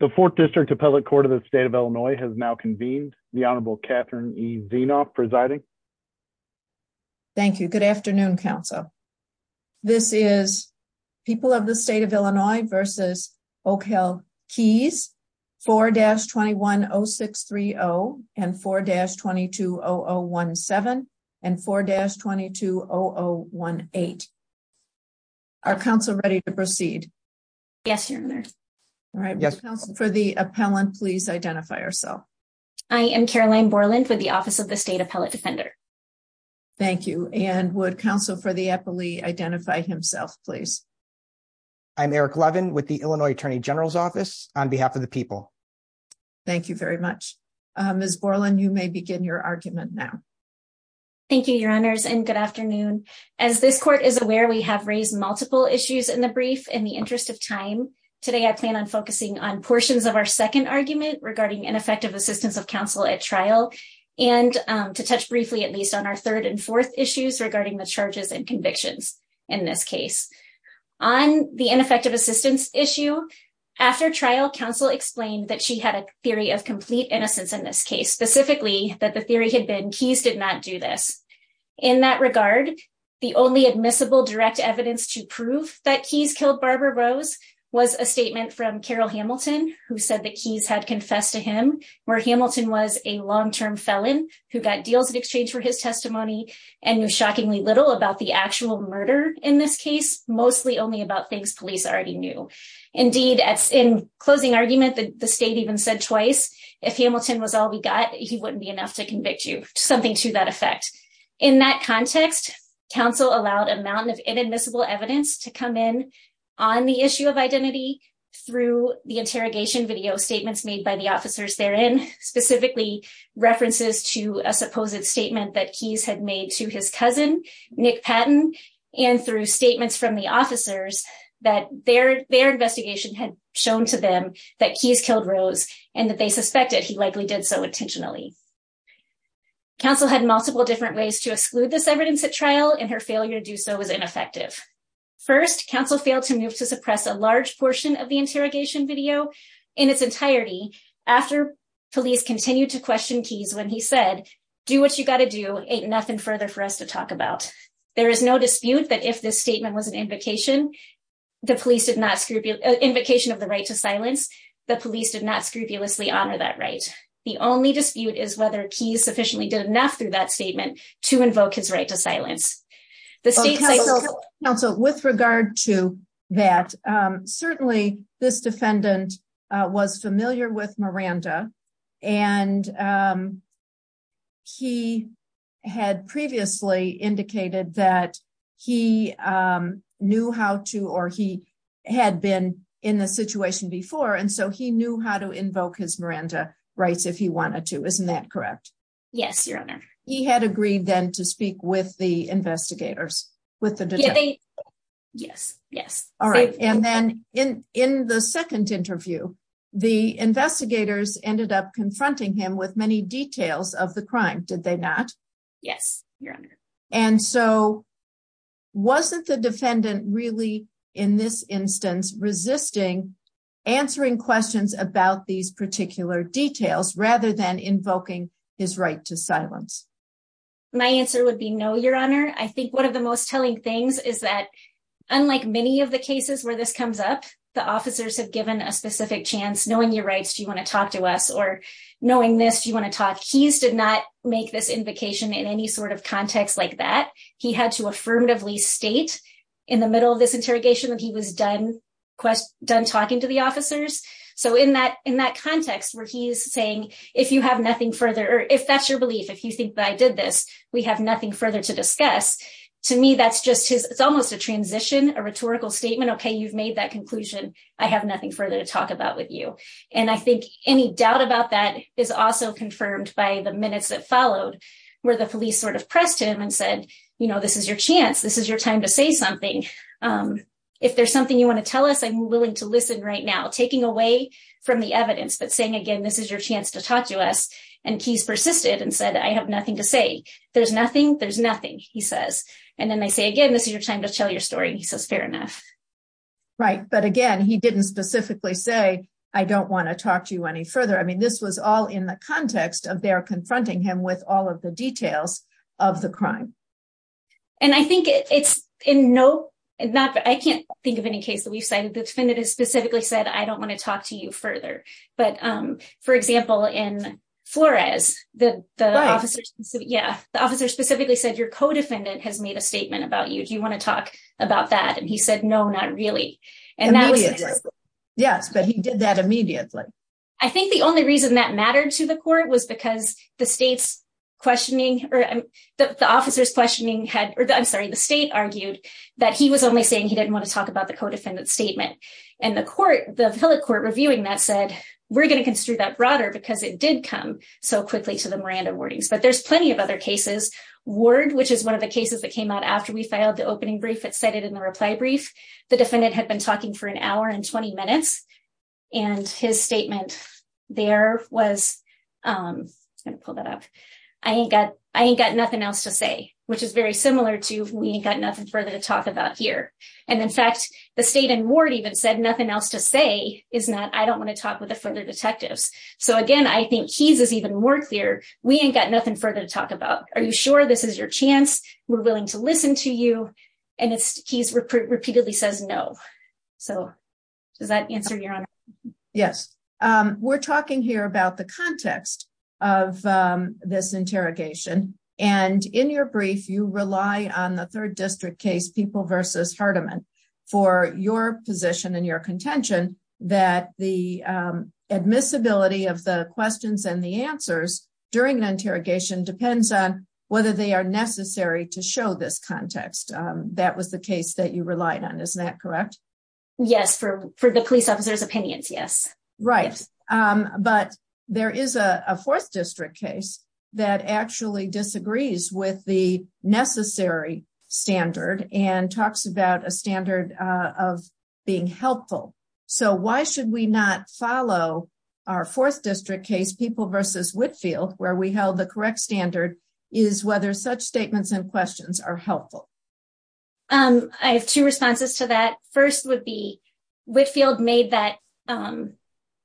The Fourth District Appellate Court of the State of Illinois has now convened. The Honorable Catherine E. Zinoff presiding. Thank you. Good afternoon, Council. This is People of the State of Illinois v. Oakhill Keys 4-210630 and 4-220017 and 4-220018. Are Council ready to proceed? Yes, Your Honor. All right. Would Council for the Appellant please identify herself? I am Caroline Borland with the Office of the State Appellate Defender. Thank you. And would Council for the Appellee identify himself, please? I'm Eric Levin with the Illinois Attorney General's Office on behalf of the People. Thank you very much. Ms. Borland, you may begin your argument now. Thank you, Your Honors, and good afternoon. As this Court is aware, we have raised multiple issues in the brief in the interest of time. Today, I plan on focusing on portions of our second argument regarding ineffective assistance of counsel at trial and to touch briefly at least on our third and fourth issues regarding the charges and convictions in this case. On the ineffective assistance issue, after trial, Council explained that she had a theory of complete innocence in this case, specifically that the theory had been Keys did not do this. In that regard, the only admissible direct evidence to prove that Keys killed Barbara Rose was a statement from Carol Hamilton, who said that Keys had confessed to him, where Hamilton was a long-term felon who got deals in exchange for his testimony and knew shockingly little about the actual murder in this case, mostly only about things police already knew. Indeed, in closing argument, the State even said twice, if Hamilton was all we got, he wouldn't be enough to convict you, something to that effect. In that context, Council allowed a mountain of inadmissible evidence to come in on the issue of identity through the interrogation video statements made by the officers therein, specifically references to a supposed statement that Keys had made to his cousin, Nick Patton, and through statements from the officers that their investigation had shown to them that Keys killed Rose and that they suspected he likely did so intentionally. Council had multiple different ways to exclude this evidence at trial, and her failure to do so was ineffective. First, Council failed to move to suppress a large portion of the interrogation video in its entirety after police continued to question Keys when he said, do what you got to do, ain't nothing further for us to talk about. There is no dispute that if this statement was an invocation, the police did not of the right to silence, the police did not scrupulously honor that right. The only dispute is whether Keys sufficiently did enough through that statement to invoke his right to silence. Council, with regard to that, certainly this defendant was familiar with Miranda, and he had previously indicated that he knew how to, or he had been in the situation before, and so he knew how to invoke his Miranda rights if he wanted to, isn't that correct? Yes, your honor. He had agreed then to speak with the investigators, with the detectives. Yes, yes. All right, and then in the second interview, the investigators ended up confronting him with many details of the crime, did they not? Yes, your honor. And so, wasn't the defendant really, in this instance, resisting answering questions about these particular details rather than invoking his right to silence? My answer would be no, your honor. I think one of the most telling things is that, unlike many of the cases where this comes up, the officers have given a specific chance, knowing your rights, do you want to talk to us? Or knowing this, do you want to talk? Keys did not make this invocation in any sort of context like that. He had to affirmatively state in the middle of this interrogation that he was done talking to the officers. So in that context where he's saying, if you have nothing further, or if that's your belief, if you think that I did this, we have nothing further to discuss. To me, that's just his, it's almost a transition, a rhetorical statement. Okay, you've made that conclusion, I have nothing further to talk about with you. And I think any doubt about that is also confirmed by the minutes that followed, where the police sort of pressed him and said, you know, this is your chance, this is your time to say something. If there's something you want to tell us, I'm willing to listen right now. Taking away from the evidence, but saying again, this is your chance to talk to us. And Keys persisted and said, I have nothing to say. There's nothing, there's nothing, he says. And then they say, again, this is your time to tell your story. He says, fair enough. Right. But again, he didn't specifically say, I don't want to talk to you any further. I mean, this was all in the context of their confronting him with all of the details of the crime. And I think it's in no, not, I can't think of any case that we've cited the defendant has specifically said, I don't want to talk to you Yeah, the officer specifically said your co-defendant has made a statement about you. Do you want to talk about that? And he said, no, not really. Yes, but he did that immediately. I think the only reason that mattered to the court was because the state's questioning or the officer's questioning had, I'm sorry, the state argued that he was only saying he didn't want to talk about the co-defendant statement. And the court, the court reviewing that said, we're going to construe that broader because it there's plenty of other cases. Ward, which is one of the cases that came out after we filed the opening brief that cited in the reply brief, the defendant had been talking for an hour and 20 minutes. And his statement there was, I'm going to pull that up. I ain't got, I ain't got nothing else to say, which is very similar to, we ain't got nothing further to talk about here. And in fact, the state and Ward even said nothing else to say is not, I don't want to talk with the further to talk about, are you sure this is your chance? We're willing to listen to you. And it's, he's repeatedly says no. So does that answer your honor? Yes. We're talking here about the context of this interrogation. And in your brief, you rely on the third district case people versus Hardiman for your position and your contention that the admissibility of the questions and the answers during an interrogation depends on whether they are necessary to show this context. That was the case that you relied on. Isn't that correct? Yes. For, for the police officers opinions. Yes. Right. But there is a fourth district case that actually disagrees with the necessary standard and talks about a standard of being helpful. So why should we not follow our fourth district case people versus Whitfield where we held the correct standard is whether such statements and questions are helpful. I have two responses to that. First would be Whitfield made that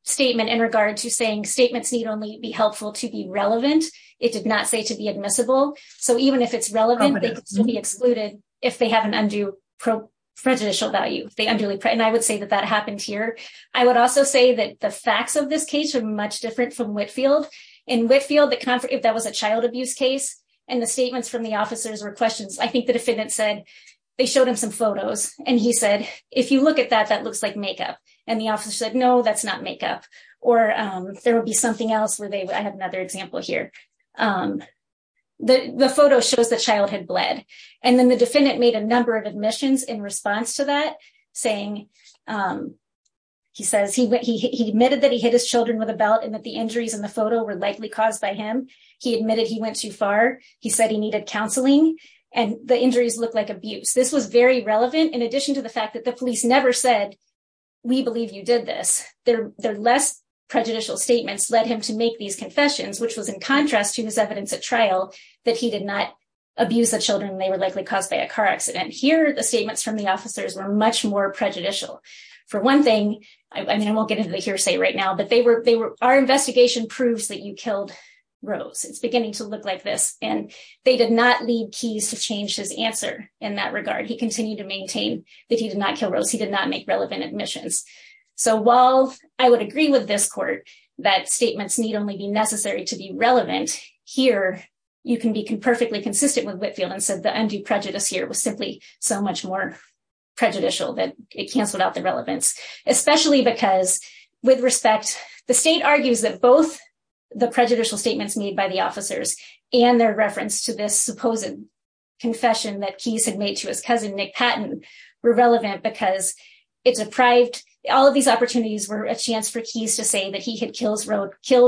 statement in regard to saying statements need only be helpful to be relevant. It did not say to be admissible. So even if it's relevant to be excluded, if they have an undue pro prejudicial value, they unduly. And I would say that that happened here. I would also say that the facts of this case are much different from Whitfield and Whitfield, the conference, if that was a child abuse case and the statements from the officers or questions, I think the defendant said they showed him some photos and he said, if you look at that, that looks like makeup. And the office said, no, that's not makeup. Or there will be something else where they, I have another example here. The photo shows the childhood bled. And then the defendant made a number of admissions in a car accident. He admitted that he hit his children with a belt and that the injuries in the photo were likely caused by him. He admitted he went too far. He said he needed counseling and the injuries look like abuse. This was very relevant in addition to the fact that the police never said, we believe you did this. Their less prejudicial statements led him to make these confessions, which was in contrast to his evidence at trial that he did not abuse the children and they were likely caused by a car accident. Here, the statements from the officers were much more for one thing. I mean, I won't get into the hearsay right now, but they were, they were, our investigation proves that you killed Rose. It's beginning to look like this. And they did not leave keys to change his answer in that regard. He continued to maintain that he did not kill Rose. He did not make relevant admissions. So while I would agree with this court, that statements need only be necessary to be relevant here. You can be perfectly consistent with Whitfield and said the undue prejudice here was simply so much more prejudicial that it canceled out the relevance, especially because with respect, the state argues that both the prejudicial statements made by the officers and their reference to this supposing confession that keys had made to his cousin, Nick Patton were relevant because it's a private, all of these opportunities were a chance for keys to say that he had killed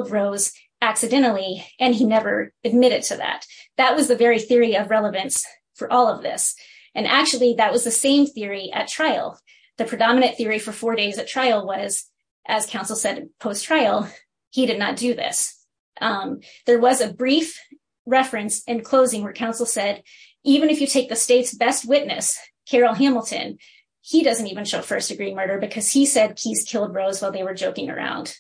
Rose accidentally. And he never admitted to that. That was the very theory of relevance for all of this. And actually that was the same theory at trial. The predominant theory for four days at trial was as counsel said, post trial, he did not do this. There was a brief reference in closing where counsel said, even if you take the state's best witness, Carol Hamilton, he doesn't even show first degree murder because he said keys killed Rose while they were joking around.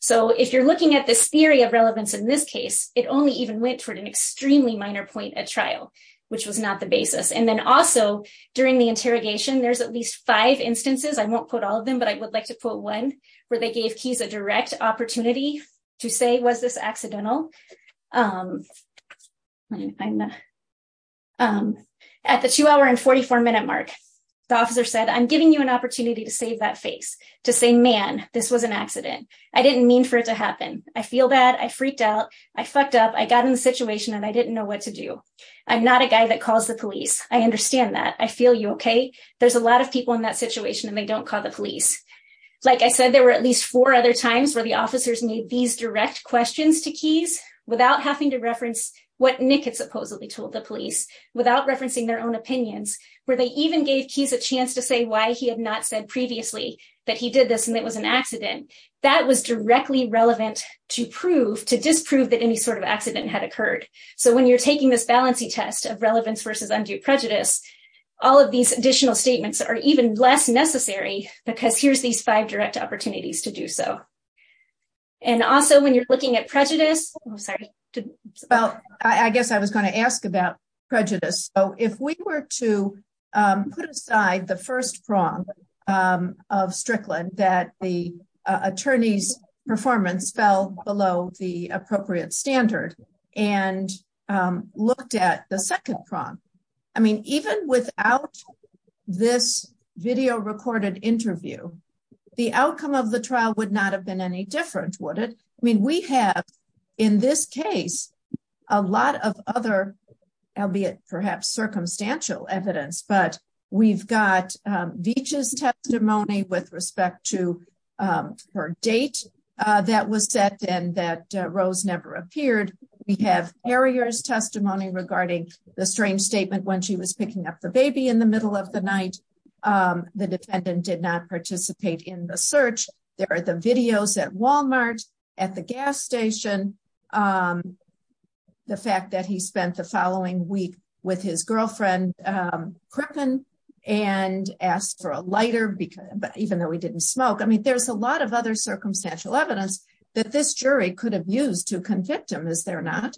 So if you're looking at this theory of relevance in this case, it only even went toward an extremely minor point at trial, which was not the basis. And then also during the interrogation, there's at least five instances, I won't put all of them, but I would like to put one where they gave keys a direct opportunity to say, was this accidental? At the two hour and 44 minute mark, the officer said, I'm giving you an opportunity to save that face to say, man, this was an accident. I didn't mean for it to happen. I feel bad. I freaked out. I fucked up. I got in the situation and I didn't know what to do. I'm not a guy that calls the police. I understand that. I feel you. Okay. There's a lot of people in that situation and they don't call the police. Like I said, there were at least four other times where the officers need these direct questions to keys without having to reference what Nick had supposedly told the police without referencing their own opinions, where they even gave keys a chance to say why he had not said previously that he did this and it was an accident that was directly relevant to prove to disprove that any accident had occurred. So when you're taking this balancey test of relevance versus undue prejudice, all of these additional statements are even less necessary because here's these five direct opportunities to do so. And also when you're looking at prejudice, I'm sorry. Well, I guess I was going to ask about prejudice. So if we were to put aside the first prong of Strickland, that the attorney's performance fell below the appropriate standard and looked at the second prong. I mean, even without this video recorded interview, the outcome of the trial would not have been any different, would it? I mean, we have in this case, a lot of other, albeit perhaps circumstantial evidence, but we've got Veach's testimony with respect to her date that was set and that Rose never appeared. We have Harrier's testimony regarding the strange statement when she was picking up the baby in the middle of the night. The defendant did not participate in the search. There are the videos at Walmart, at the gas station. The fact that he spent the following week with his girlfriend, Crippen, and asked for a lighter, even though he didn't smoke. I mean, there's a lot of other circumstantial evidence that this jury could have used to convict him, is there not?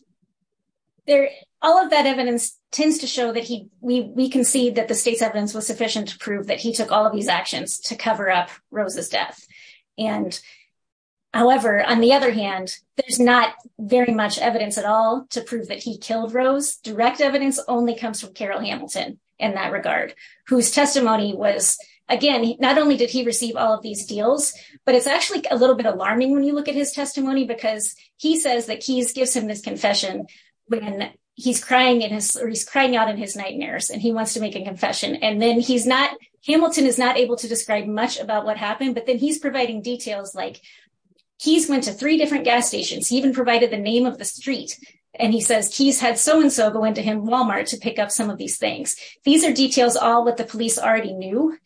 All of that evidence tends to show that we can see that the state's evidence was sufficient to prove that he took all of these actions to cover up Rose's death. And however, on the other hand, there's not very much evidence at all to prove that he killed Rose direct evidence only comes from Carroll Hamilton in that regard, whose testimony was, again, not only did he receive all of these deals, but it's actually a little bit alarming when you look at his testimony because he says that Keyes gives him this confession when he's crying in his, or he's crying out in his nightmares and he wants to make a confession. And then he's not, Hamilton is not able to describe much about what happened, but then he's providing details like, Keyes went to three gas stations, he even provided the name of the street. And he says, Keyes had so-and-so go into him Walmart to pick up some of these things. These are details all that the police already knew.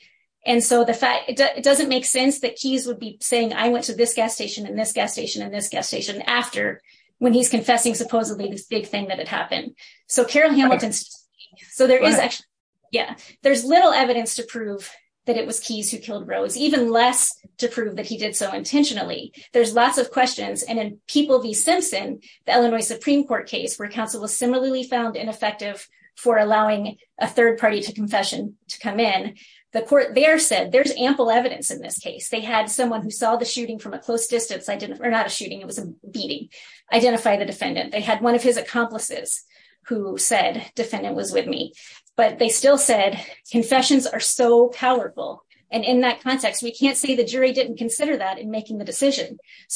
And so the fact, it doesn't make sense that Keyes would be saying, I went to this gas station and this gas station and this gas station after when he's confessing supposedly this big thing that had happened. So Carroll Hamilton, so there is actually, yeah, there's little evidence to prove that it was Keyes who killed Rose, even less to prove that he did so intentionally. There's lots of questions. And in People v. Simpson, the Illinois Supreme Court case where counsel was similarly found ineffective for allowing a third party to confession to come in, the court there said there's ample evidence in this case. They had someone who saw the shooting from a close distance, or not a shooting, it was a beating, identify the defendant. They had one of his accomplices who said, defendant was with me, but they still said confessions are so So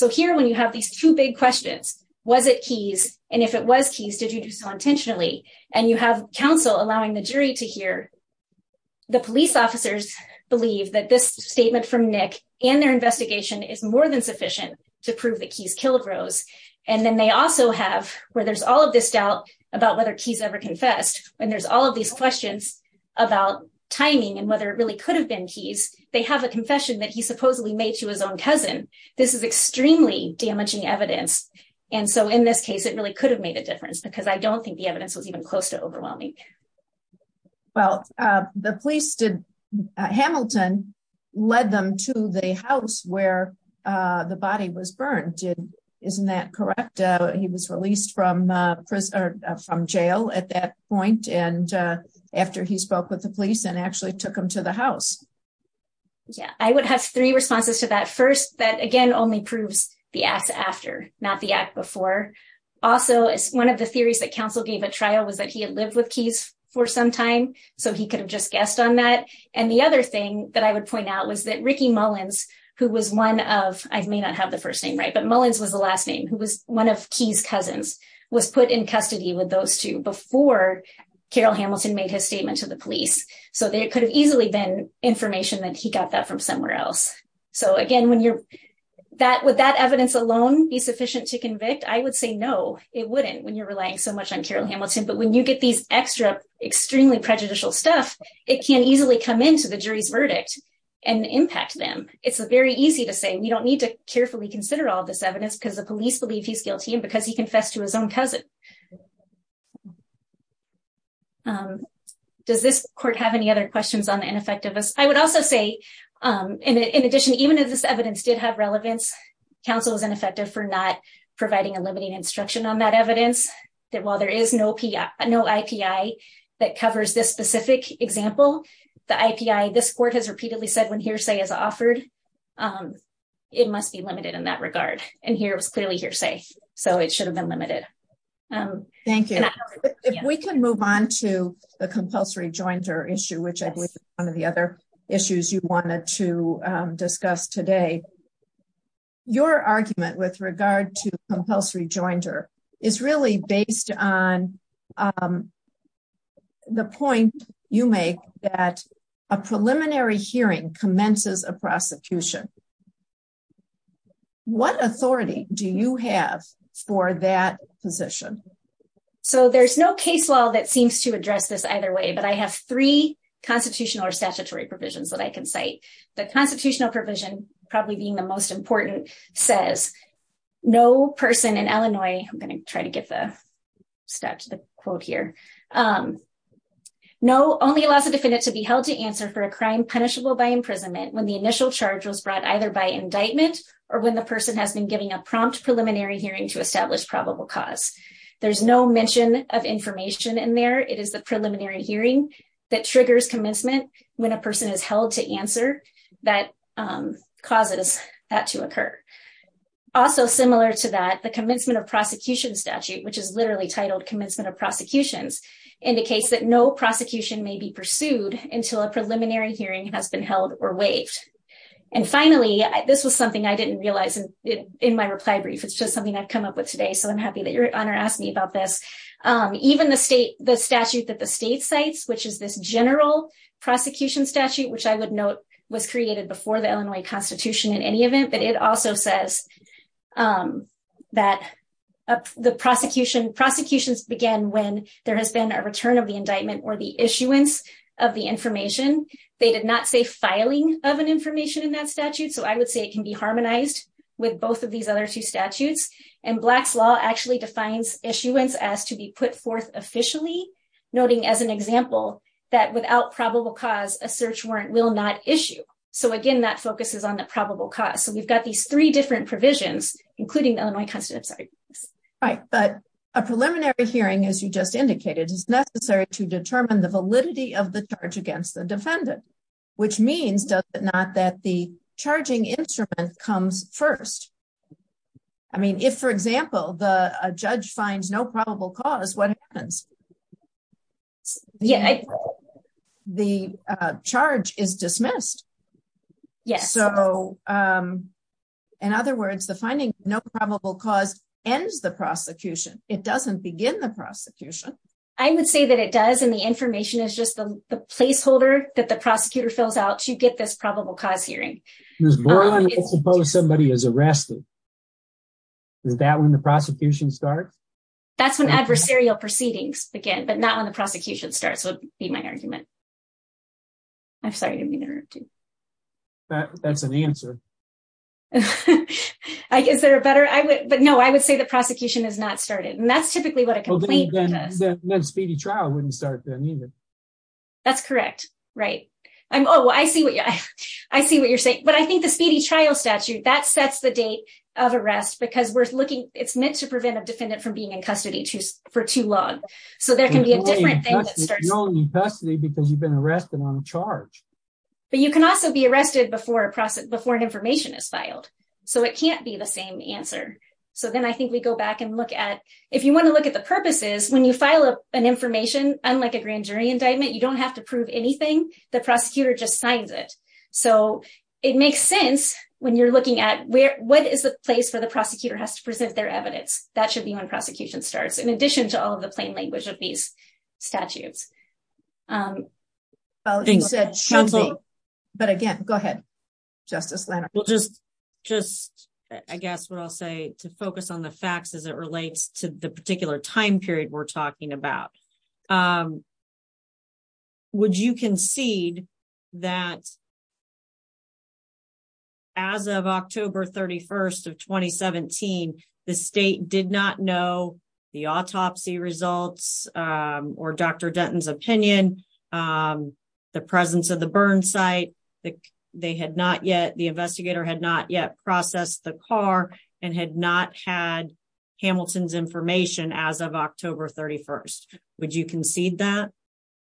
here when you have these two big questions, was it Keyes? And if it was Keyes, did you do so intentionally? And you have counsel allowing the jury to hear. The police officers believe that this statement from Nick and their investigation is more than sufficient to prove that Keyes killed Rose. And then they also have, where there's all of this doubt about whether Keyes ever confessed, when there's all of these questions about timing and whether it really could have been Keyes, they have a confession that he supposedly made to his own This is extremely damaging evidence. And so in this case, it really could have made a difference, because I don't think the evidence was even close to overwhelming. Well, the police did. Hamilton led them to the house where the body was burned. Isn't that correct? He was released from prison or from jail at that point. And after he spoke with the police and actually took him to the house. Yeah, I would have three responses to that first, that again, only proves the acts after not the act before. Also, it's one of the theories that counsel gave a trial was that he had lived with Keyes for some time. So he could have just guessed on that. And the other thing that I would point out was that Ricky Mullins, who was one of I may not have the first name, right, but Mullins was the last name who was one of Keyes cousins was Carol Hamilton made his statement to the police. So there could have easily been information that he got that from somewhere else. So again, when you're that would that evidence alone be sufficient to convict? I would say no, it wouldn't when you're relying so much on Carol Hamilton. But when you get these extra, extremely prejudicial stuff, it can easily come into the jury's verdict and impact them. It's very easy to say we don't need to carefully consider all this evidence because the police believe he's guilty and because he confessed to his own cousin. Um, does this court have any other questions on the ineffectiveness? I would also say, in addition, even if this evidence did have relevance, counsel is ineffective for not providing a limiting instruction on that evidence that while there is no PI, no API, that covers this specific example, the API, this court has repeatedly said when hearsay is offered, it must be limited in that regard. And here was clearly hearsay. So it should have been limited. Oh, thank you. If we can move on to the compulsory jointer issue, which I believe is one of the other issues you wanted to discuss today. Your argument with regard to compulsory jointer is really based on the point you make that a preliminary hearing commences a prosecution. What authority do you have for that position? So there's no case law that seems to address this either way, but I have three constitutional or statutory provisions that I can cite. The constitutional provision, probably being the most important, says no person in Illinois, I'm going to try to get the stat to the quote here. Um, no, only allows a defendant to be held to answer for a crime punishable by imprisonment when the initial charge was brought against them. Indictment or when the person has been giving a prompt preliminary hearing to establish probable cause. There's no mention of information in there. It is the preliminary hearing that triggers commencement when a person is held to answer that, um, causes that to occur. Also similar to that, the commencement of prosecution statute, which is literally titled commencement of prosecutions indicates that no prosecution may be pursued until a was something I didn't realize in my reply brief. It's just something I've come up with today. So I'm happy that your honor asked me about this. Um, even the state, the statute that the state cites, which is this general prosecution statute, which I would note was created before the Illinois constitution in any event, but it also says, um, that the prosecution prosecutions began when there has been a return of the indictment or the issuance of the information. They did not say of an information in that statute. So I would say it can be harmonized with both of these other two statutes and black's law actually defines issuance as to be put forth officially noting as an example that without probable cause a search warrant will not issue. So again, that focuses on the probable cause. So we've got these three different provisions, including the Illinois constant. I'm sorry. Right. But a preliminary hearing, as you just indicated is necessary to determine the validity of the charge against the defendant, which means does it not that the charging instrument comes first? I mean, if for example, the judge finds no probable cause what happens? Yeah. The charge is dismissed. Yes. So, in other words, the finding no probable cause ends the prosecution. It doesn't begin the prosecution. I would say that it does. And the information is just the placeholder that prosecutor fills out to get this probable cause hearing. Suppose somebody is arrested. Is that when the prosecution starts? That's when adversarial proceedings begin, but not when the prosecution starts would be my argument. I'm sorry. That's an answer. I guess there are better. But no, I would say the prosecution has not started. And that's oh, I see what you're saying. But I think the speedy trial statute that sets the date of arrest because we're looking, it's meant to prevent a defendant from being in custody for too long. So there can be a different thing that starts. You're only in custody because you've been arrested on a charge. But you can also be arrested before an information is filed. So it can't be the same answer. So then I think we go back and look at if you want to look at the purposes when you file an information, unlike a grand jury indictment, you don't have to prove anything. The prosecutor just signs it. So it makes sense when you're looking at where what is the place where the prosecutor has to present their evidence. That should be when prosecution starts. In addition to all of the plain language of these statutes. But again, go ahead, Justice Leonard. Well, just just I guess what I'll say to focus on the facts as it relates to the particular time period we're talking about. Would you concede that as of October 31st of 2017, the state did not know the autopsy results, or Dr. Denton's opinion, the presence of the burn site that they had not yet the investigator had not yet processed the car and had not had Hamilton's information as of October 31st? Would you concede that?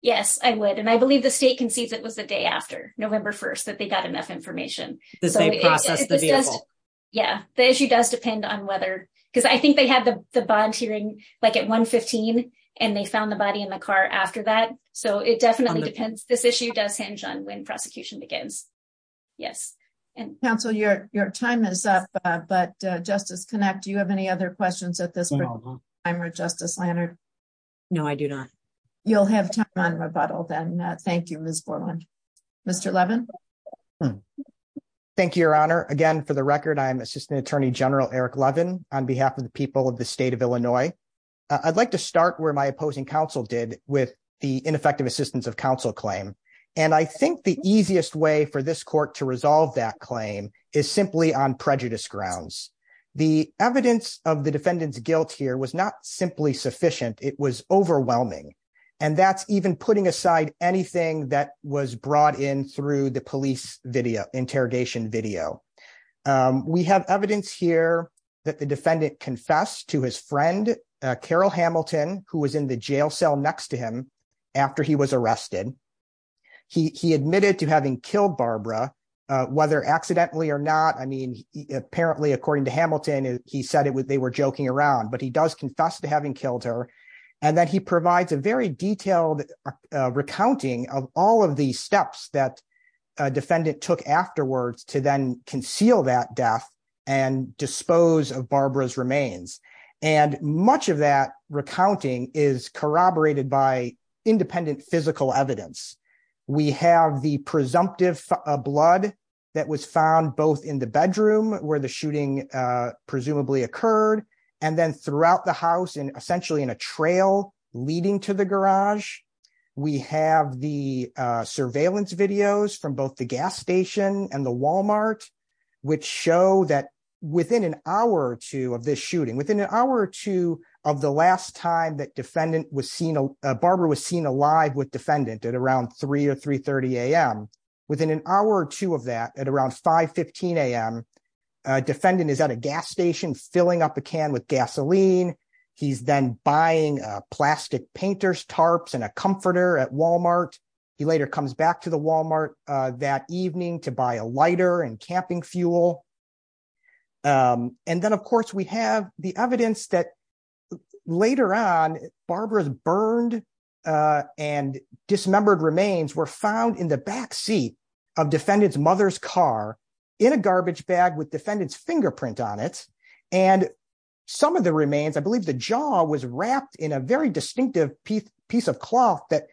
Yes, I would. And I believe the state concedes it was the day after November 1st that they got enough information. Yeah, the issue does depend on whether because I think they had the bond hearing like at 115. And they found the body in the car after that. So it definitely depends. This issue does hinge on when prosecution begins. Yes. And counsel, your your time is up. But Justice Connick, do you have any other questions at this point? I'm a Justice Leonard. No, I do not. You'll have time on rebuttal then. Thank you, Miss Foreman. Mr. Levin. Thank you, Your Honor. Again, for the record, I'm Assistant Attorney General Eric Levin, on behalf of the people of the state of Illinois. I'd like to start where my opposing counsel did with the ineffective assistance of counsel claim. And I think the easiest way for this court to resolve that claim is simply on prejudice grounds. The evidence of the defendant's guilt here was not simply sufficient, it was overwhelming. And that's even putting aside anything that was brought in through the police video interrogation video. We have evidence here that the defendant confessed to his friend, Carol Hamilton, who was in the jail cell next to him after he was arrested. He admitted to having killed Barbara, whether accidentally or not. I mean, apparently, according to Hamilton, he said it was they were joking around, but he does confess to having killed her. And that he provides a very detailed recounting of all of the steps that defendant took afterwards to then conceal that death and dispose of Barbara's remains. And much of that recounting is corroborated by independent physical evidence. We have the presumptive blood that was found both in the bedroom where the shooting presumably occurred, and then throughout the house and essentially in a trail leading to the garage. We have the surveillance videos from both gas station and the Walmart, which show that within an hour or two of this shooting, within an hour or two of the last time that Barbara was seen alive with defendant at around 3 or 3.30 a.m., within an hour or two of that at around 5.15 a.m., defendant is at a gas station filling up a can with gasoline. He's then buying plastic painters tarps and a comforter at Walmart. He later comes back to the Walmart that evening to buy a lighter and camping fuel. And then, of course, we have the evidence that later on Barbara's burned and dismembered remains were found in the back seat of defendant's mother's car in a garbage bag with defendant's fingerprint on it. And some of the remains, I believe the jaw was wrapped in a very distinctive piece of cloth that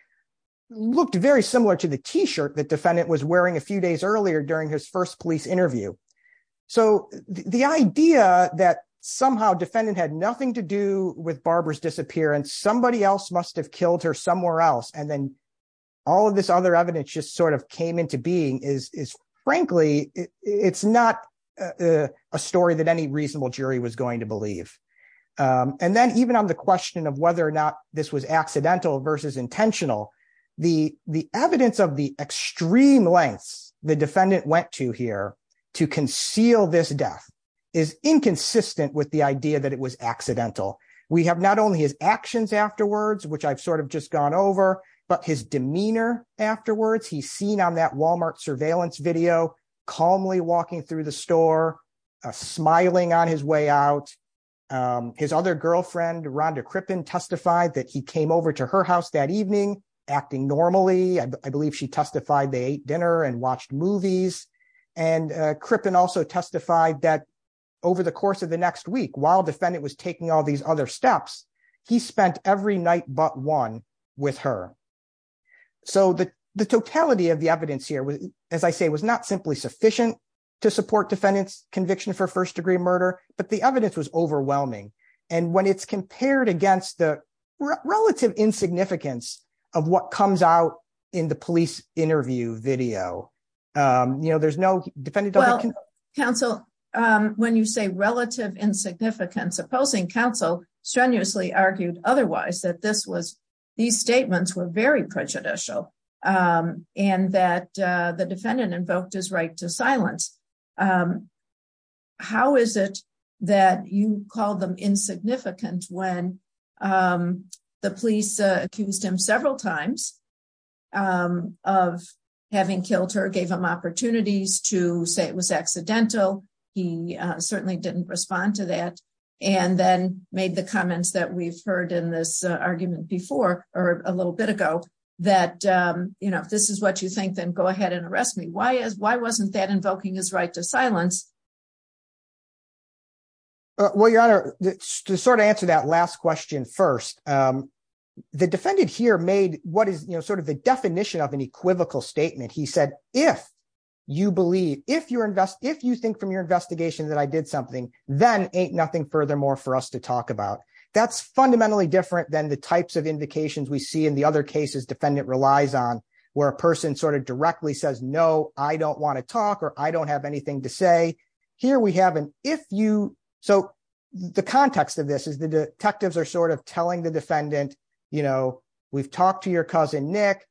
looked very similar to the T-shirt that defendant was wearing a few days earlier during his first police interview. So the idea that somehow defendant had nothing to do with Barbara's disappearance, somebody else must have killed her somewhere else, and then all of this other evidence just sort of came into being is, frankly, it's not a story that any accidental versus intentional. The evidence of the extreme lengths the defendant went to here to conceal this death is inconsistent with the idea that it was accidental. We have not only his actions afterwards, which I've sort of just gone over, but his demeanor afterwards. He's seen on that Walmart surveillance video calmly walking through the store, smiling on his way out. His other girlfriend, Rhonda Crippen, testified that he came over to her house that evening acting normally. I believe she testified they ate dinner and watched movies. And Crippen also testified that over the course of the next week, while defendant was taking all these other steps, he spent every night but one with her. So the totality of the evidence here, as I say, was not simply sufficient to support defendant's conviction for first degree murder, but the overwhelming. And when it's compared against the relative insignificance of what comes out in the police interview video, you know, there's no defendant... Well, counsel, when you say relative insignificance, opposing counsel strenuously argued otherwise, that this was, these statements were very prejudicial, and that the defendant invoked his right to silence. How is it that you call them insignificant when the police accused him several times of having killed her, gave him opportunities to say it was accidental. He certainly didn't respond to that. And then made the comments that we've heard in this argument before, or a little bit ago, that, you know, if this is what you think, then go ahead and arrest me. Why wasn't that invoking his right to silence? Well, Your Honor, to sort of answer that last question first, the defendant here made what is, you know, sort of the definition of an equivocal statement. He said, if you believe, if you think from your investigation that I did something, then ain't nothing furthermore for us to talk about. That's fundamentally different than the types of invocations we see in the other cases defendant relies on, where a person sort of I don't want to talk, or I don't have anything to say. Here we have an if you, so the context of this is the detectives are sort of telling the defendant, you know, we've talked to your cousin Nick,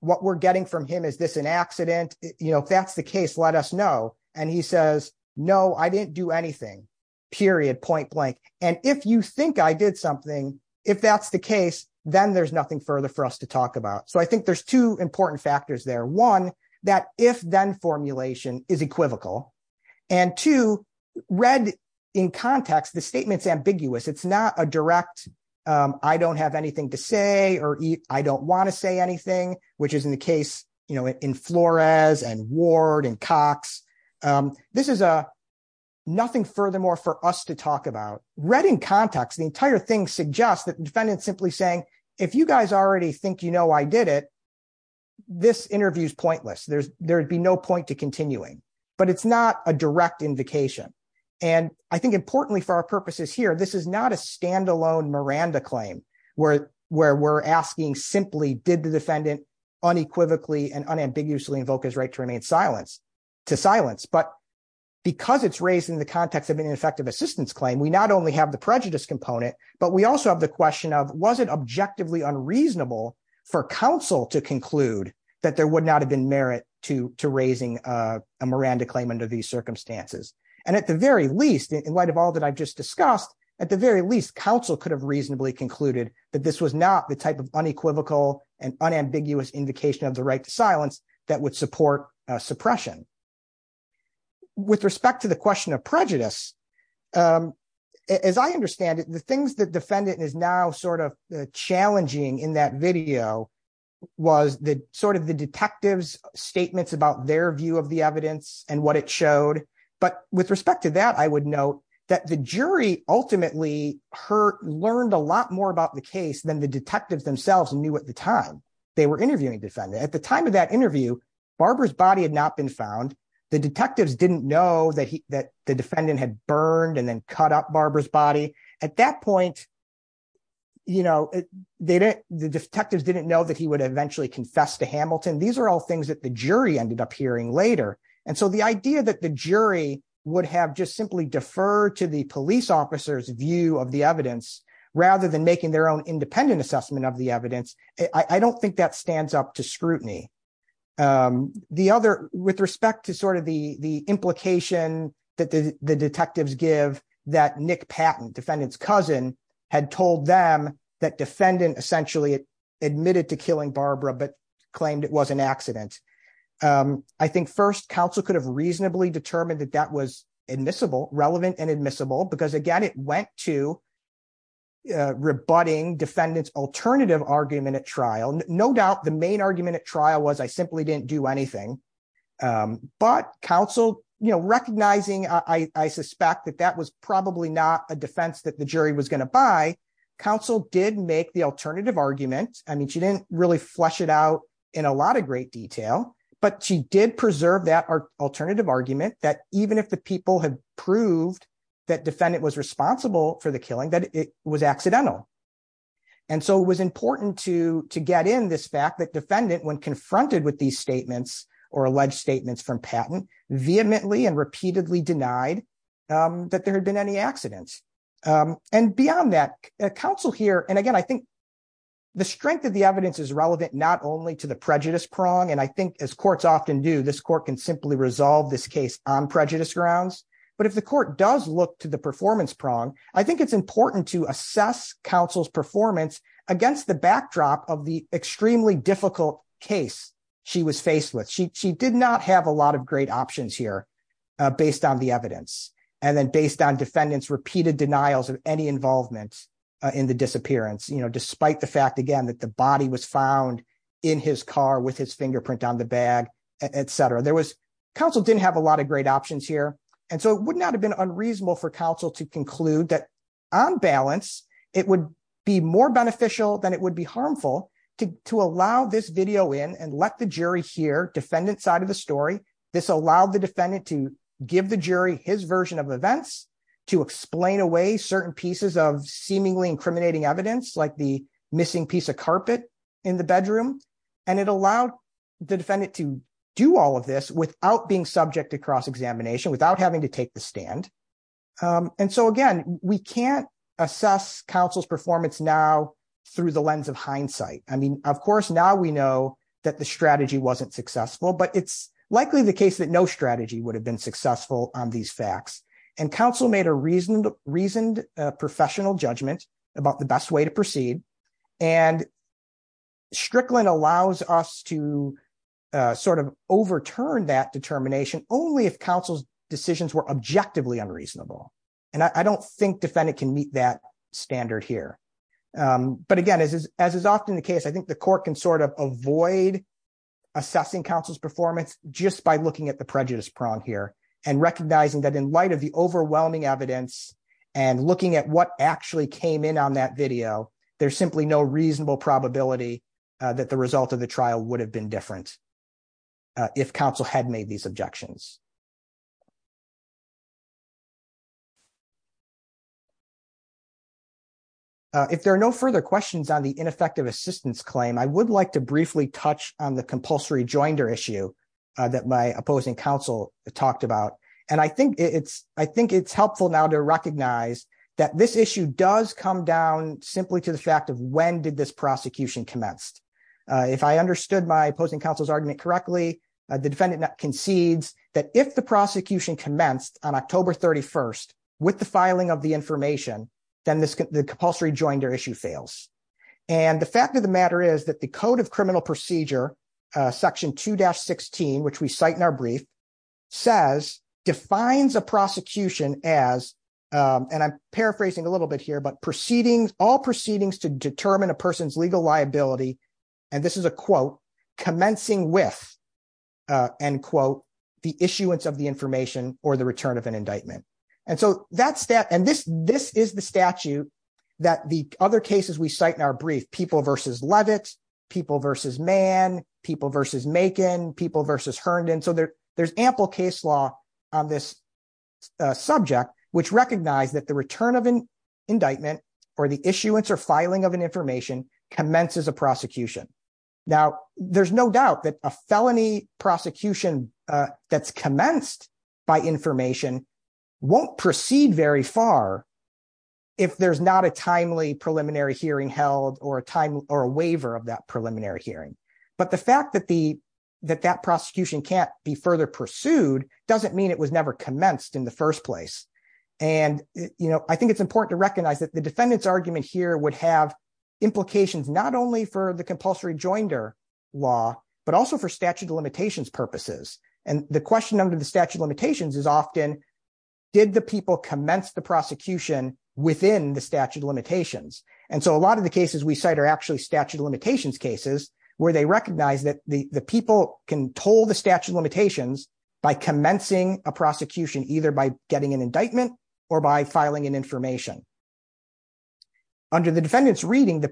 what we're getting from him, is this an accident? You know, if that's the case, let us know. And he says, no, I didn't do anything, period, point blank. And if you think I did something, if that's the case, then there's nothing further for us to talk about. So I think there's two important factors there. One, that if then formulation is equivocal. And two, read in context, the statement's ambiguous. It's not a direct, I don't have anything to say, or I don't want to say anything, which is in the case, you know, in Flores and Ward and Cox. This is a nothing furthermore for us to talk about. Read in context, the entire thing suggests that the defendant's this interview is pointless, there's there'd be no point to continuing, but it's not a direct invocation. And I think importantly, for our purposes here, this is not a standalone Miranda claim, where we're asking simply did the defendant unequivocally and unambiguously invoke his right to remain silence to silence, but because it's raised in the context of an ineffective assistance claim, we not only have the prejudice component, but we also have the question of was it objectively unreasonable for counsel to conclude that there would not have been merit to raising a Miranda claim under these circumstances. And at the very least, in light of all that I've just discussed, at the very least, counsel could have reasonably concluded that this was not the type of unequivocal and unambiguous invocation of the right to silence that would support suppression. With respect to the question of prejudice, as I understand it, the things that defendant is now challenging in that video was the detectives' statements about their view of the evidence and what it showed. But with respect to that, I would note that the jury ultimately learned a lot more about the case than the detectives themselves knew at the time they were interviewing defendant. At the time of that interview, Barbara's body had not been found. The detectives didn't know that the defendant had burned and then cut up Barbara's body. At that point, the detectives didn't know that he would eventually confess to Hamilton. These are all things that the jury ended up hearing later. And so the idea that the jury would have just simply deferred to the police officer's view of the evidence rather than making their own independent assessment of the evidence, I don't think that stands up to scrutiny. The other, with respect to sort of the implication that the detectives give that Nick Patton, defendant's cousin, had told them that defendant essentially admitted to killing Barbara but claimed it was an accident. I think first, counsel could have reasonably determined that that was admissible, relevant and admissible, because again, it went to rebutting defendant's alternative argument at trial. No doubt the main argument at trial was I simply didn't do anything. But counsel, you know, recognizing I suspect that that was probably not a defense that the jury was going to buy, counsel did make the alternative argument. I mean, she didn't really flesh it out in a lot of great detail, but she did preserve that alternative argument that even if the people had proved that defendant was responsible for the killing, that it was accidental. And so it was important to get in this fact that defendant, when confronted with these statements or alleged statements from Patton, vehemently and repeatedly denied that there had been any accidents. And beyond that, counsel here, and again, I think the strength of the evidence is relevant not only to the prejudice prong, and I think as courts often do, this court can simply resolve this case on prejudice grounds, but if the court does look to the performance prong, I think it's important to assess counsel's performance against the backdrop of the extremely difficult case she was faced with. She did not have a lot of great options here based on the evidence, and then based on defendant's repeated denials of any involvement in the disappearance, you know, despite the fact, again, that the body was found in his car with his fingerprint on the bag, etc. There was, counsel didn't have a lot of options here, and so it would not have been unreasonable for counsel to conclude that on balance, it would be more beneficial than it would be harmful to allow this video in and let the jury hear defendant's side of the story. This allowed the defendant to give the jury his version of events, to explain away certain pieces of seemingly incriminating evidence, like the missing piece of carpet in the bedroom, and it allowed the defendant to do all of this without being subject to cross-examination, without having to take the stand, and so again, we can't assess counsel's performance now through the lens of hindsight. I mean, of course, now we know that the strategy wasn't successful, but it's likely the case that no strategy would have been successful on these facts, and counsel made a reasoned professional judgment about the best way to only if counsel's decisions were objectively unreasonable, and I don't think defendant can meet that standard here, but again, as is often the case, I think the court can sort of avoid assessing counsel's performance just by looking at the prejudice prong here and recognizing that in light of the overwhelming evidence and looking at what actually came in on that video, there's simply no reasonable probability that the result of the trial would have been different if counsel had made these objections. If there are no further questions on the ineffective assistance claim, I would like to briefly touch on the compulsory joinder issue that my opposing counsel talked about, and I think it's helpful now to recognize that this issue does come down simply to the fact of this prosecution commenced. If I understood my opposing counsel's argument correctly, the defendant concedes that if the prosecution commenced on October 31st with the filing of the information, then the compulsory joinder issue fails, and the fact of the matter is that the Code of Criminal Procedure, section 2-16, which we cite in our brief, defines a prosecution as, and I'm paraphrasing a little bit here, but all proceedings to determine a person's legal liability, and this is a quote, commencing with, end quote, the issuance of the information or the return of an indictment. And this is the statute that the other cases we cite in our brief, people versus Levitt, people versus Mann, people versus Makin, people versus Herndon, so there's ample case law on this subject which recognize that the return of an indictment or the issuance or filing of an information commences a prosecution. Now, there's no doubt that a felony prosecution that's commenced by information won't proceed very far if there's not a timely preliminary hearing held or a waiver of that preliminary hearing, but the fact that that prosecution can't be further pursued doesn't mean it was never commenced in the first place. And, you know, I think it's important to recognize that the defendant's argument here would have implications not only for the compulsory joinder law, but also for statute of limitations purposes, and the question under the statute of limitations is often, did the people commence the prosecution within the statute of limitations? And so a lot of the cases we cite are actually statute of limitations by commencing a prosecution either by getting an indictment or by filing an information. Under the defendant's reading,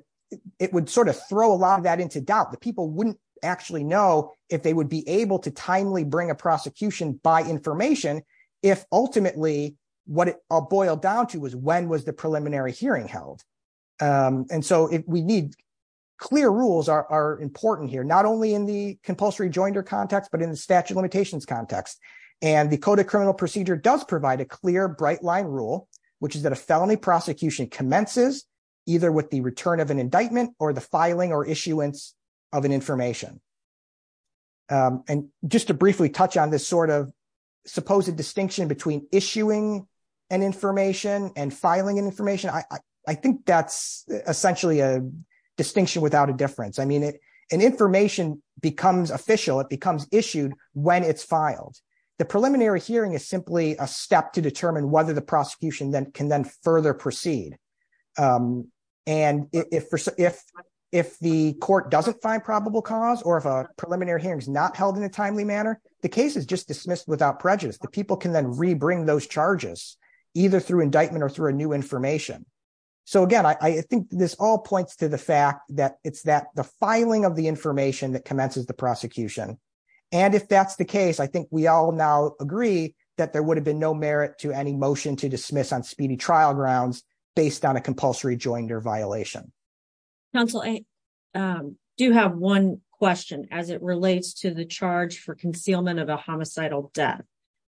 it would sort of throw a lot of that into doubt. The people wouldn't actually know if they would be able to timely bring a prosecution by information if ultimately what it all boiled down to was when was the preliminary hearing held. And so we need clear rules are important here, not only in the compulsory joinder context, but in the statute of limitations context. And the code of criminal procedure does provide a clear bright line rule, which is that a felony prosecution commences either with the return of an indictment or the filing or issuance of an information. And just to briefly touch on this sort of supposed distinction between issuing an information and filing an information, I think that's essentially a distinction without a difference. I mean, an information becomes issued when it's filed. The preliminary hearing is simply a step to determine whether the prosecution can then further proceed. And if the court doesn't find probable cause or if a preliminary hearing is not held in a timely manner, the case is just dismissed without prejudice. The people can then rebring those charges either through indictment or through a new information. So again, I think this all points to the fact that it's that the filing of the information that commences the prosecution. And if that's the case, I think we all now agree that there would have been no merit to any motion to dismiss on speedy trial grounds based on a compulsory joinder violation. Counsel, I do have one question as it relates to the charge for concealment of a homicidal death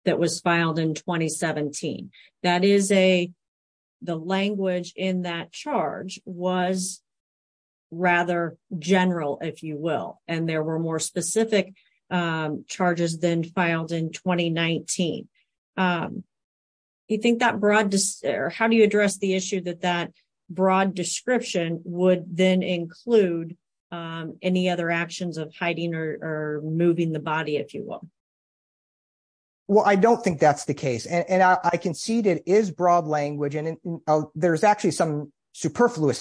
that was filed in 2017. That is a, the language in that charge was rather general, if you will. And there were more specific charges than filed in 2019. Do you think that broad, or how do you address the issue that that broad description would then include any other actions of hiding or moving the body, if you will? Well, I don't think that's the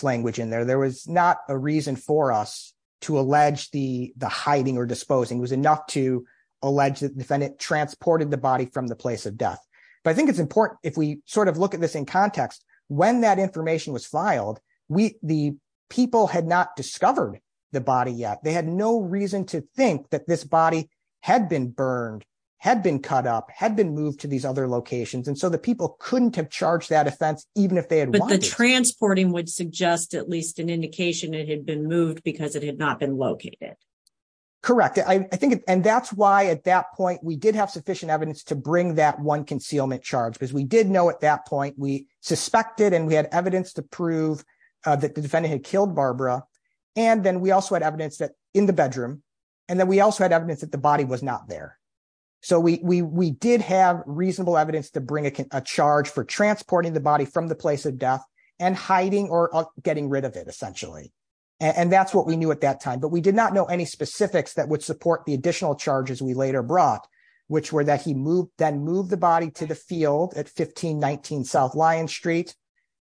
language in there. There was not a reason for us to allege the hiding or disposing. It was enough to allege that the defendant transported the body from the place of death. But I think it's important if we sort of look at this in context, when that information was filed, the people had not discovered the body yet. They had no reason to think that this body had been burned, had been cut up, had been moved to these other locations. And so the people couldn't have charged that offense, even if they had wanted to. But the transporting would suggest at least an indication it had been moved because it had not been located. Correct. I think, and that's why at that point we did have sufficient evidence to bring that one concealment charge, because we did know at that point, we suspected and we had evidence to prove that the defendant had killed Barbara. And then we also had evidence that in the bedroom, and then we also had evidence that the body was not there. So we did have reasonable evidence to bring a charge for transporting the body from the place of death and hiding or getting rid of it, essentially. And that's what we knew at that time. But we did not know any specifics that would support the additional charges we later brought, which were that he then moved the body to the field at 1519 South Lyons Street,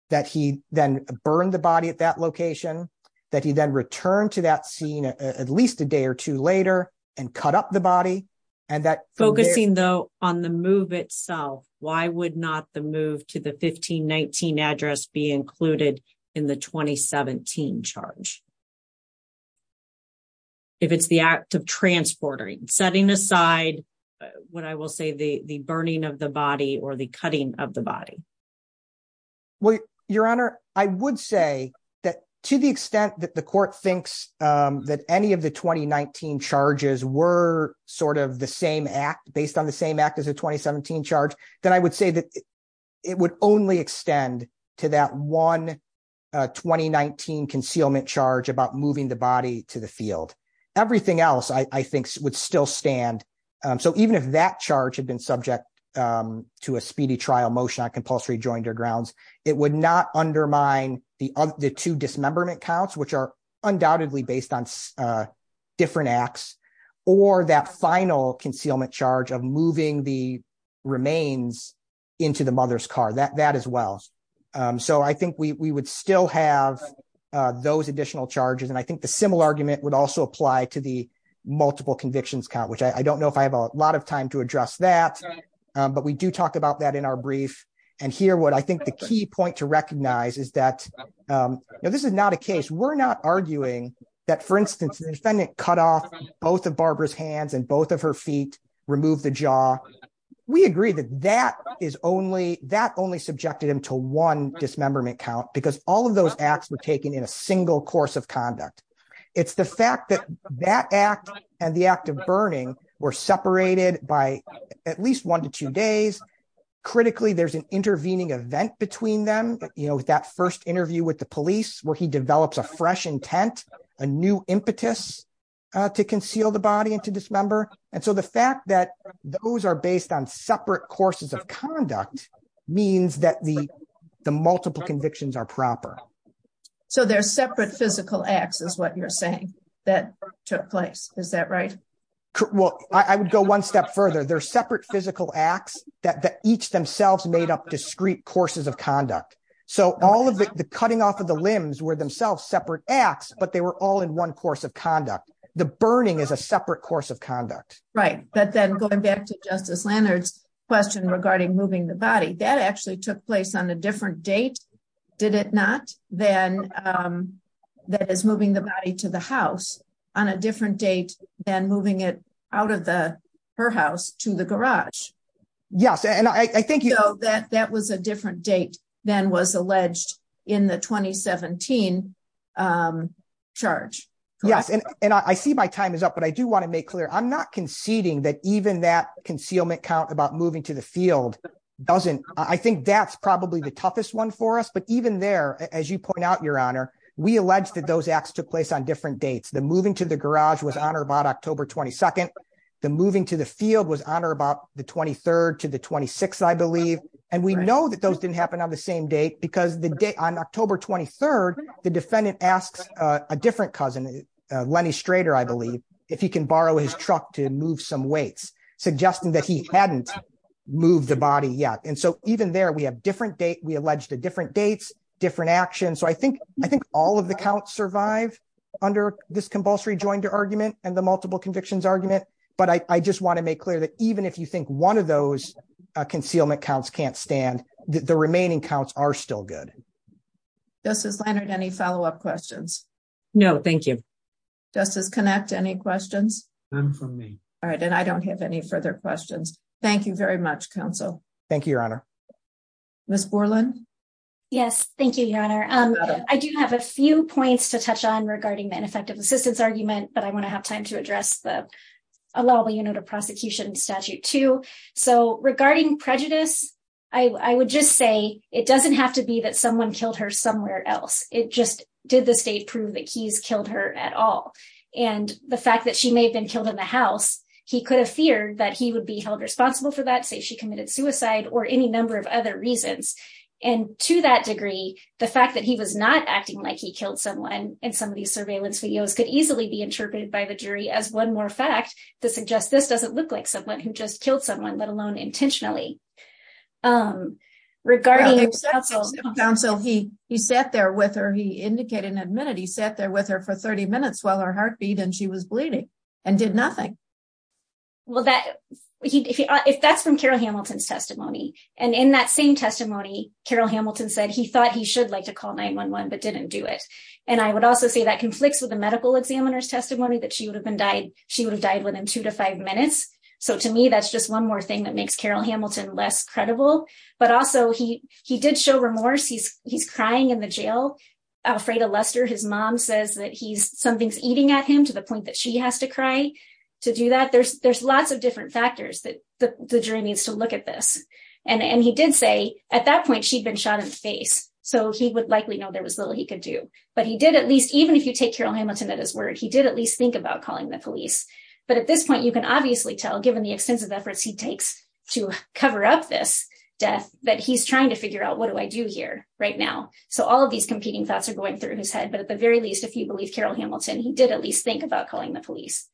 that he then burned the body at that location, that he then returned to that scene at least a Focusing though on the move itself, why would not the move to the 1519 address be included in the 2017 charge? If it's the act of transporting, setting aside, what I will say, the burning of the body or the cutting of the body? Well, Your Honor, I would say that to the extent that the court thinks that any of the 2019 charges were sort of the same act based on the same act as a 2017 charge, then I would say that it would only extend to that one 2019 concealment charge about moving the body to the field. Everything else, I think, would still stand. So even if that charge had been subject to a speedy trial motion on compulsory joint or grounds, it would not undermine the two dismemberment counts, which are undoubtedly based on different acts, or that final concealment charge of moving the remains into the mother's car, that as well. So I think we would still have those additional charges. And I think the similar argument would also apply to the multiple convictions count, which I don't know if I have a lot of time to address that. But we do talk about that in our brief. And here, what I think the key point to recognize is that this is not a case. We're not arguing that, for instance, the defendant cut off both of Barbara's hands and both of her feet, removed the jaw. We agree that that only subjected him to one dismemberment count because all of those acts were taken in a single course of conduct. It's the fact that that act and the act of burning were separated by at least one to two days. Critically, there's an intervening event between them, that first interview with the police where he develops a fresh intent, a new impetus to conceal the body and to dismember. And so the fact that those are based on separate courses of conduct means that the multiple convictions are proper. So they're separate physical acts is what you're saying that took place. Is that right? Well, I would go one step further. They're separate physical acts that each themselves made up discrete courses of conduct. So all of the cutting off of the limbs were themselves separate acts, but they were all in one course of conduct. The burning is a separate course of conduct. Right. But then going back to Justice Leonard's question regarding moving the body, that actually took place on a different date, did it not? Then that is moving the body to the house on a different date than moving it out of the her house to the garage. Yes. And I think you know that that was a different date than was alleged in the 2017 charge. Yes. And I see my time is up, but I do want to make clear. I'm not conceding that even that concealment count about moving to the field doesn't. I think that's probably the toughest one for us. But even there, as you point out, Your Honor, we allege that those acts took place on different dates. The moving to the garage was on or about October 22nd. The moving to the field was on or about the 23rd to the 26th, I believe. And we know that those didn't happen on the same date because the day on October 23rd, the defendant asks a different cousin, Lenny Strader, I believe, if he can borrow his truck to move some weights, suggesting that he hadn't moved the body yet. And so even there, we allege the different dates, different actions. So I think all of the counts survive under this compulsory joined argument and the multiple convictions argument. But I just want to make clear that even if you think one of those concealment counts can't stand, the remaining counts are still good. Justice Leonard, any follow-up questions? No, thank you. Justice Connacht, any questions? None from me. All right. And I don't have any further questions. Thank you very much, counsel. Thank you, Your Honor. Ms. Borland? Yes, thank you, Your Honor. I do have a few points to touch on regarding the ineffective assistance argument, but I want to have time to address the allowable unit of prosecution statute too. So regarding prejudice, I would just say it doesn't have to be that someone killed her somewhere else. It just did the state prove that he's killed her at all. And the fact that she may have been killed in the house, he could have feared that he would held responsible for that, say she committed suicide or any number of other reasons. And to that degree, the fact that he was not acting like he killed someone in some of these surveillance videos could easily be interpreted by the jury as one more fact to suggest this doesn't look like someone who just killed someone, let alone intentionally. Regarding counsel, he sat there with her. He indicated in a minute he sat there with her for 30 minutes while her heart beat and she was bleeding and did nothing. Well, if that's from Carol Hamilton's testimony and in that same testimony, Carol Hamilton said he thought he should like to call 911, but didn't do it. And I would also say that conflicts with the medical examiner's testimony that she would have died within two to five minutes. So to me, that's just one more thing that makes Carol Hamilton less credible, but also he did show remorse. He's crying in the jail. Alfreda Lester, his mom says that something's eating at him to the point that she has to cry to do that. There's lots of different factors that the jury needs to look at this. And he did say at that point, she'd been shot in the face. So he would likely know there was little he could do, but he did at least, even if you take Carol Hamilton at his word, he did at least think about calling the police. But at this point, you can obviously tell given the extensive efforts he takes to cover up this death, that he's trying to figure out what do I do here right now? So all of these competing thoughts are going through his head. But at the very least, if you believe Carol Hamilton, he did at least think about calling the police.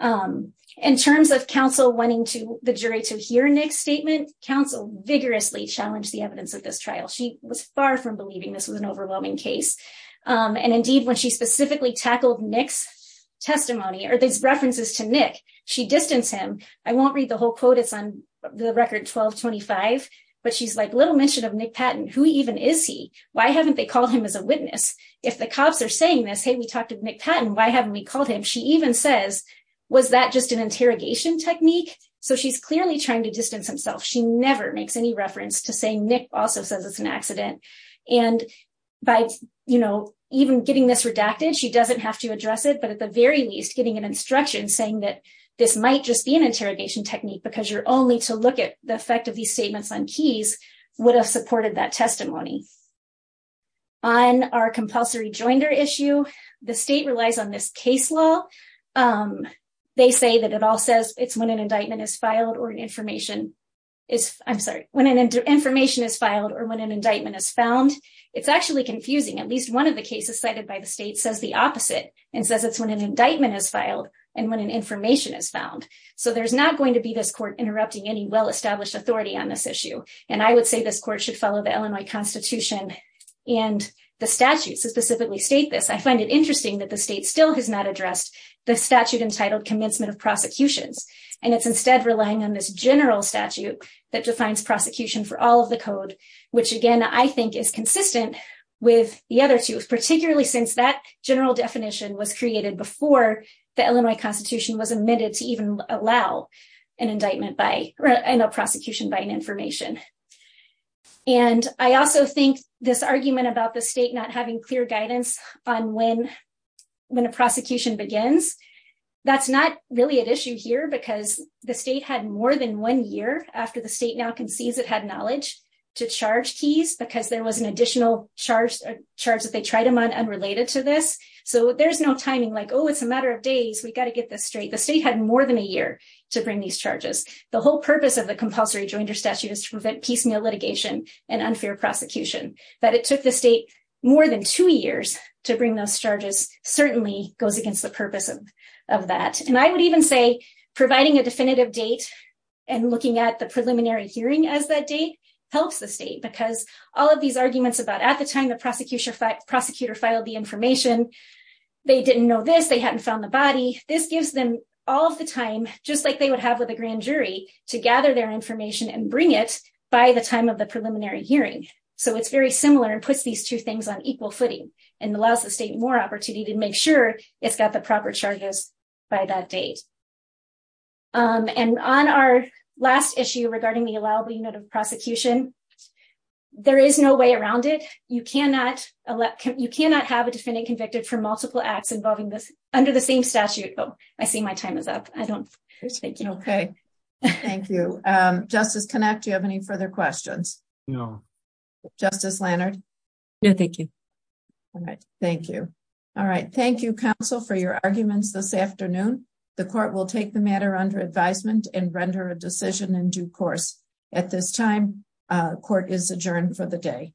In terms of counsel wanting the jury to hear Nick's statement, counsel vigorously challenged the evidence of this trial. She was far from believing this was an overwhelming case. And indeed, when she specifically tackled Nick's testimony or these references to Nick, she distanced him. I won't read the whole quote, it's on the record 1225, but she's like, little mention of Nick Patton, who even is he? Why haven't they called him as a witness? If the cops are saying this, hey, we talked to Nick Patton, why haven't we called him? She even says, was that just an interrogation technique? So she's clearly trying to distance himself. She never makes any reference to say Nick also says it's an accident. And by even getting this redacted, she doesn't have to address it. But at the very least, getting an instruction saying that this might just be an interrogation technique because you're only to look at the effect of these statements on keys would have supported that testimony. On our compulsory issue, the state relies on this case law. They say that it all says it's when an indictment is filed or an information is I'm sorry, when an information is filed or when an indictment is found. It's actually confusing at least one of the cases cited by the state says the opposite and says it's when an indictment is filed and when an information is found. So there's not going to be this court interrupting any well established authority on this issue. And I would say this I find it interesting that the state still has not addressed the statute entitled commencement of prosecutions. And it's instead relying on this general statute that defines prosecution for all of the code, which again, I think is consistent with the other two, particularly since that general definition was created before the Illinois constitution was admitted to even allow an indictment by a prosecution by an information. And I also think this argument about the state having clear guidance on when a prosecution begins, that's not really an issue here because the state had more than one year after the state now concedes it had knowledge to charge keys because there was an additional charge that they tried them on unrelated to this. So there's no timing like, oh, it's a matter of days. We got to get this straight. The state had more than a year to bring these charges. The whole purpose of the compulsory Joinder statute is to prevent litigation and unfair prosecution, but it took the state more than two years to bring those charges certainly goes against the purpose of that. And I would even say providing a definitive date and looking at the preliminary hearing as that date helps the state because all of these arguments about at the time the prosecutor filed the information, they didn't know this, they hadn't found the body. This gives them all of the time, just like they would have with a grand jury to gather their information and bring it by the time of the preliminary hearing. So it's very similar and puts these two things on equal footing and allows the state more opportunity to make sure it's got the proper charges by that date. And on our last issue regarding the allowable unit of prosecution, there is no way around it. You cannot have a defendant convicted for multiple Thank you. Justice connect. Do you have any further questions? No. Justice Leonard? No, thank you. All right. Thank you. All right. Thank you, counsel for your arguments this afternoon. The court will take the matter under advisement and render a decision in due course. At this time, court is adjourned for the day.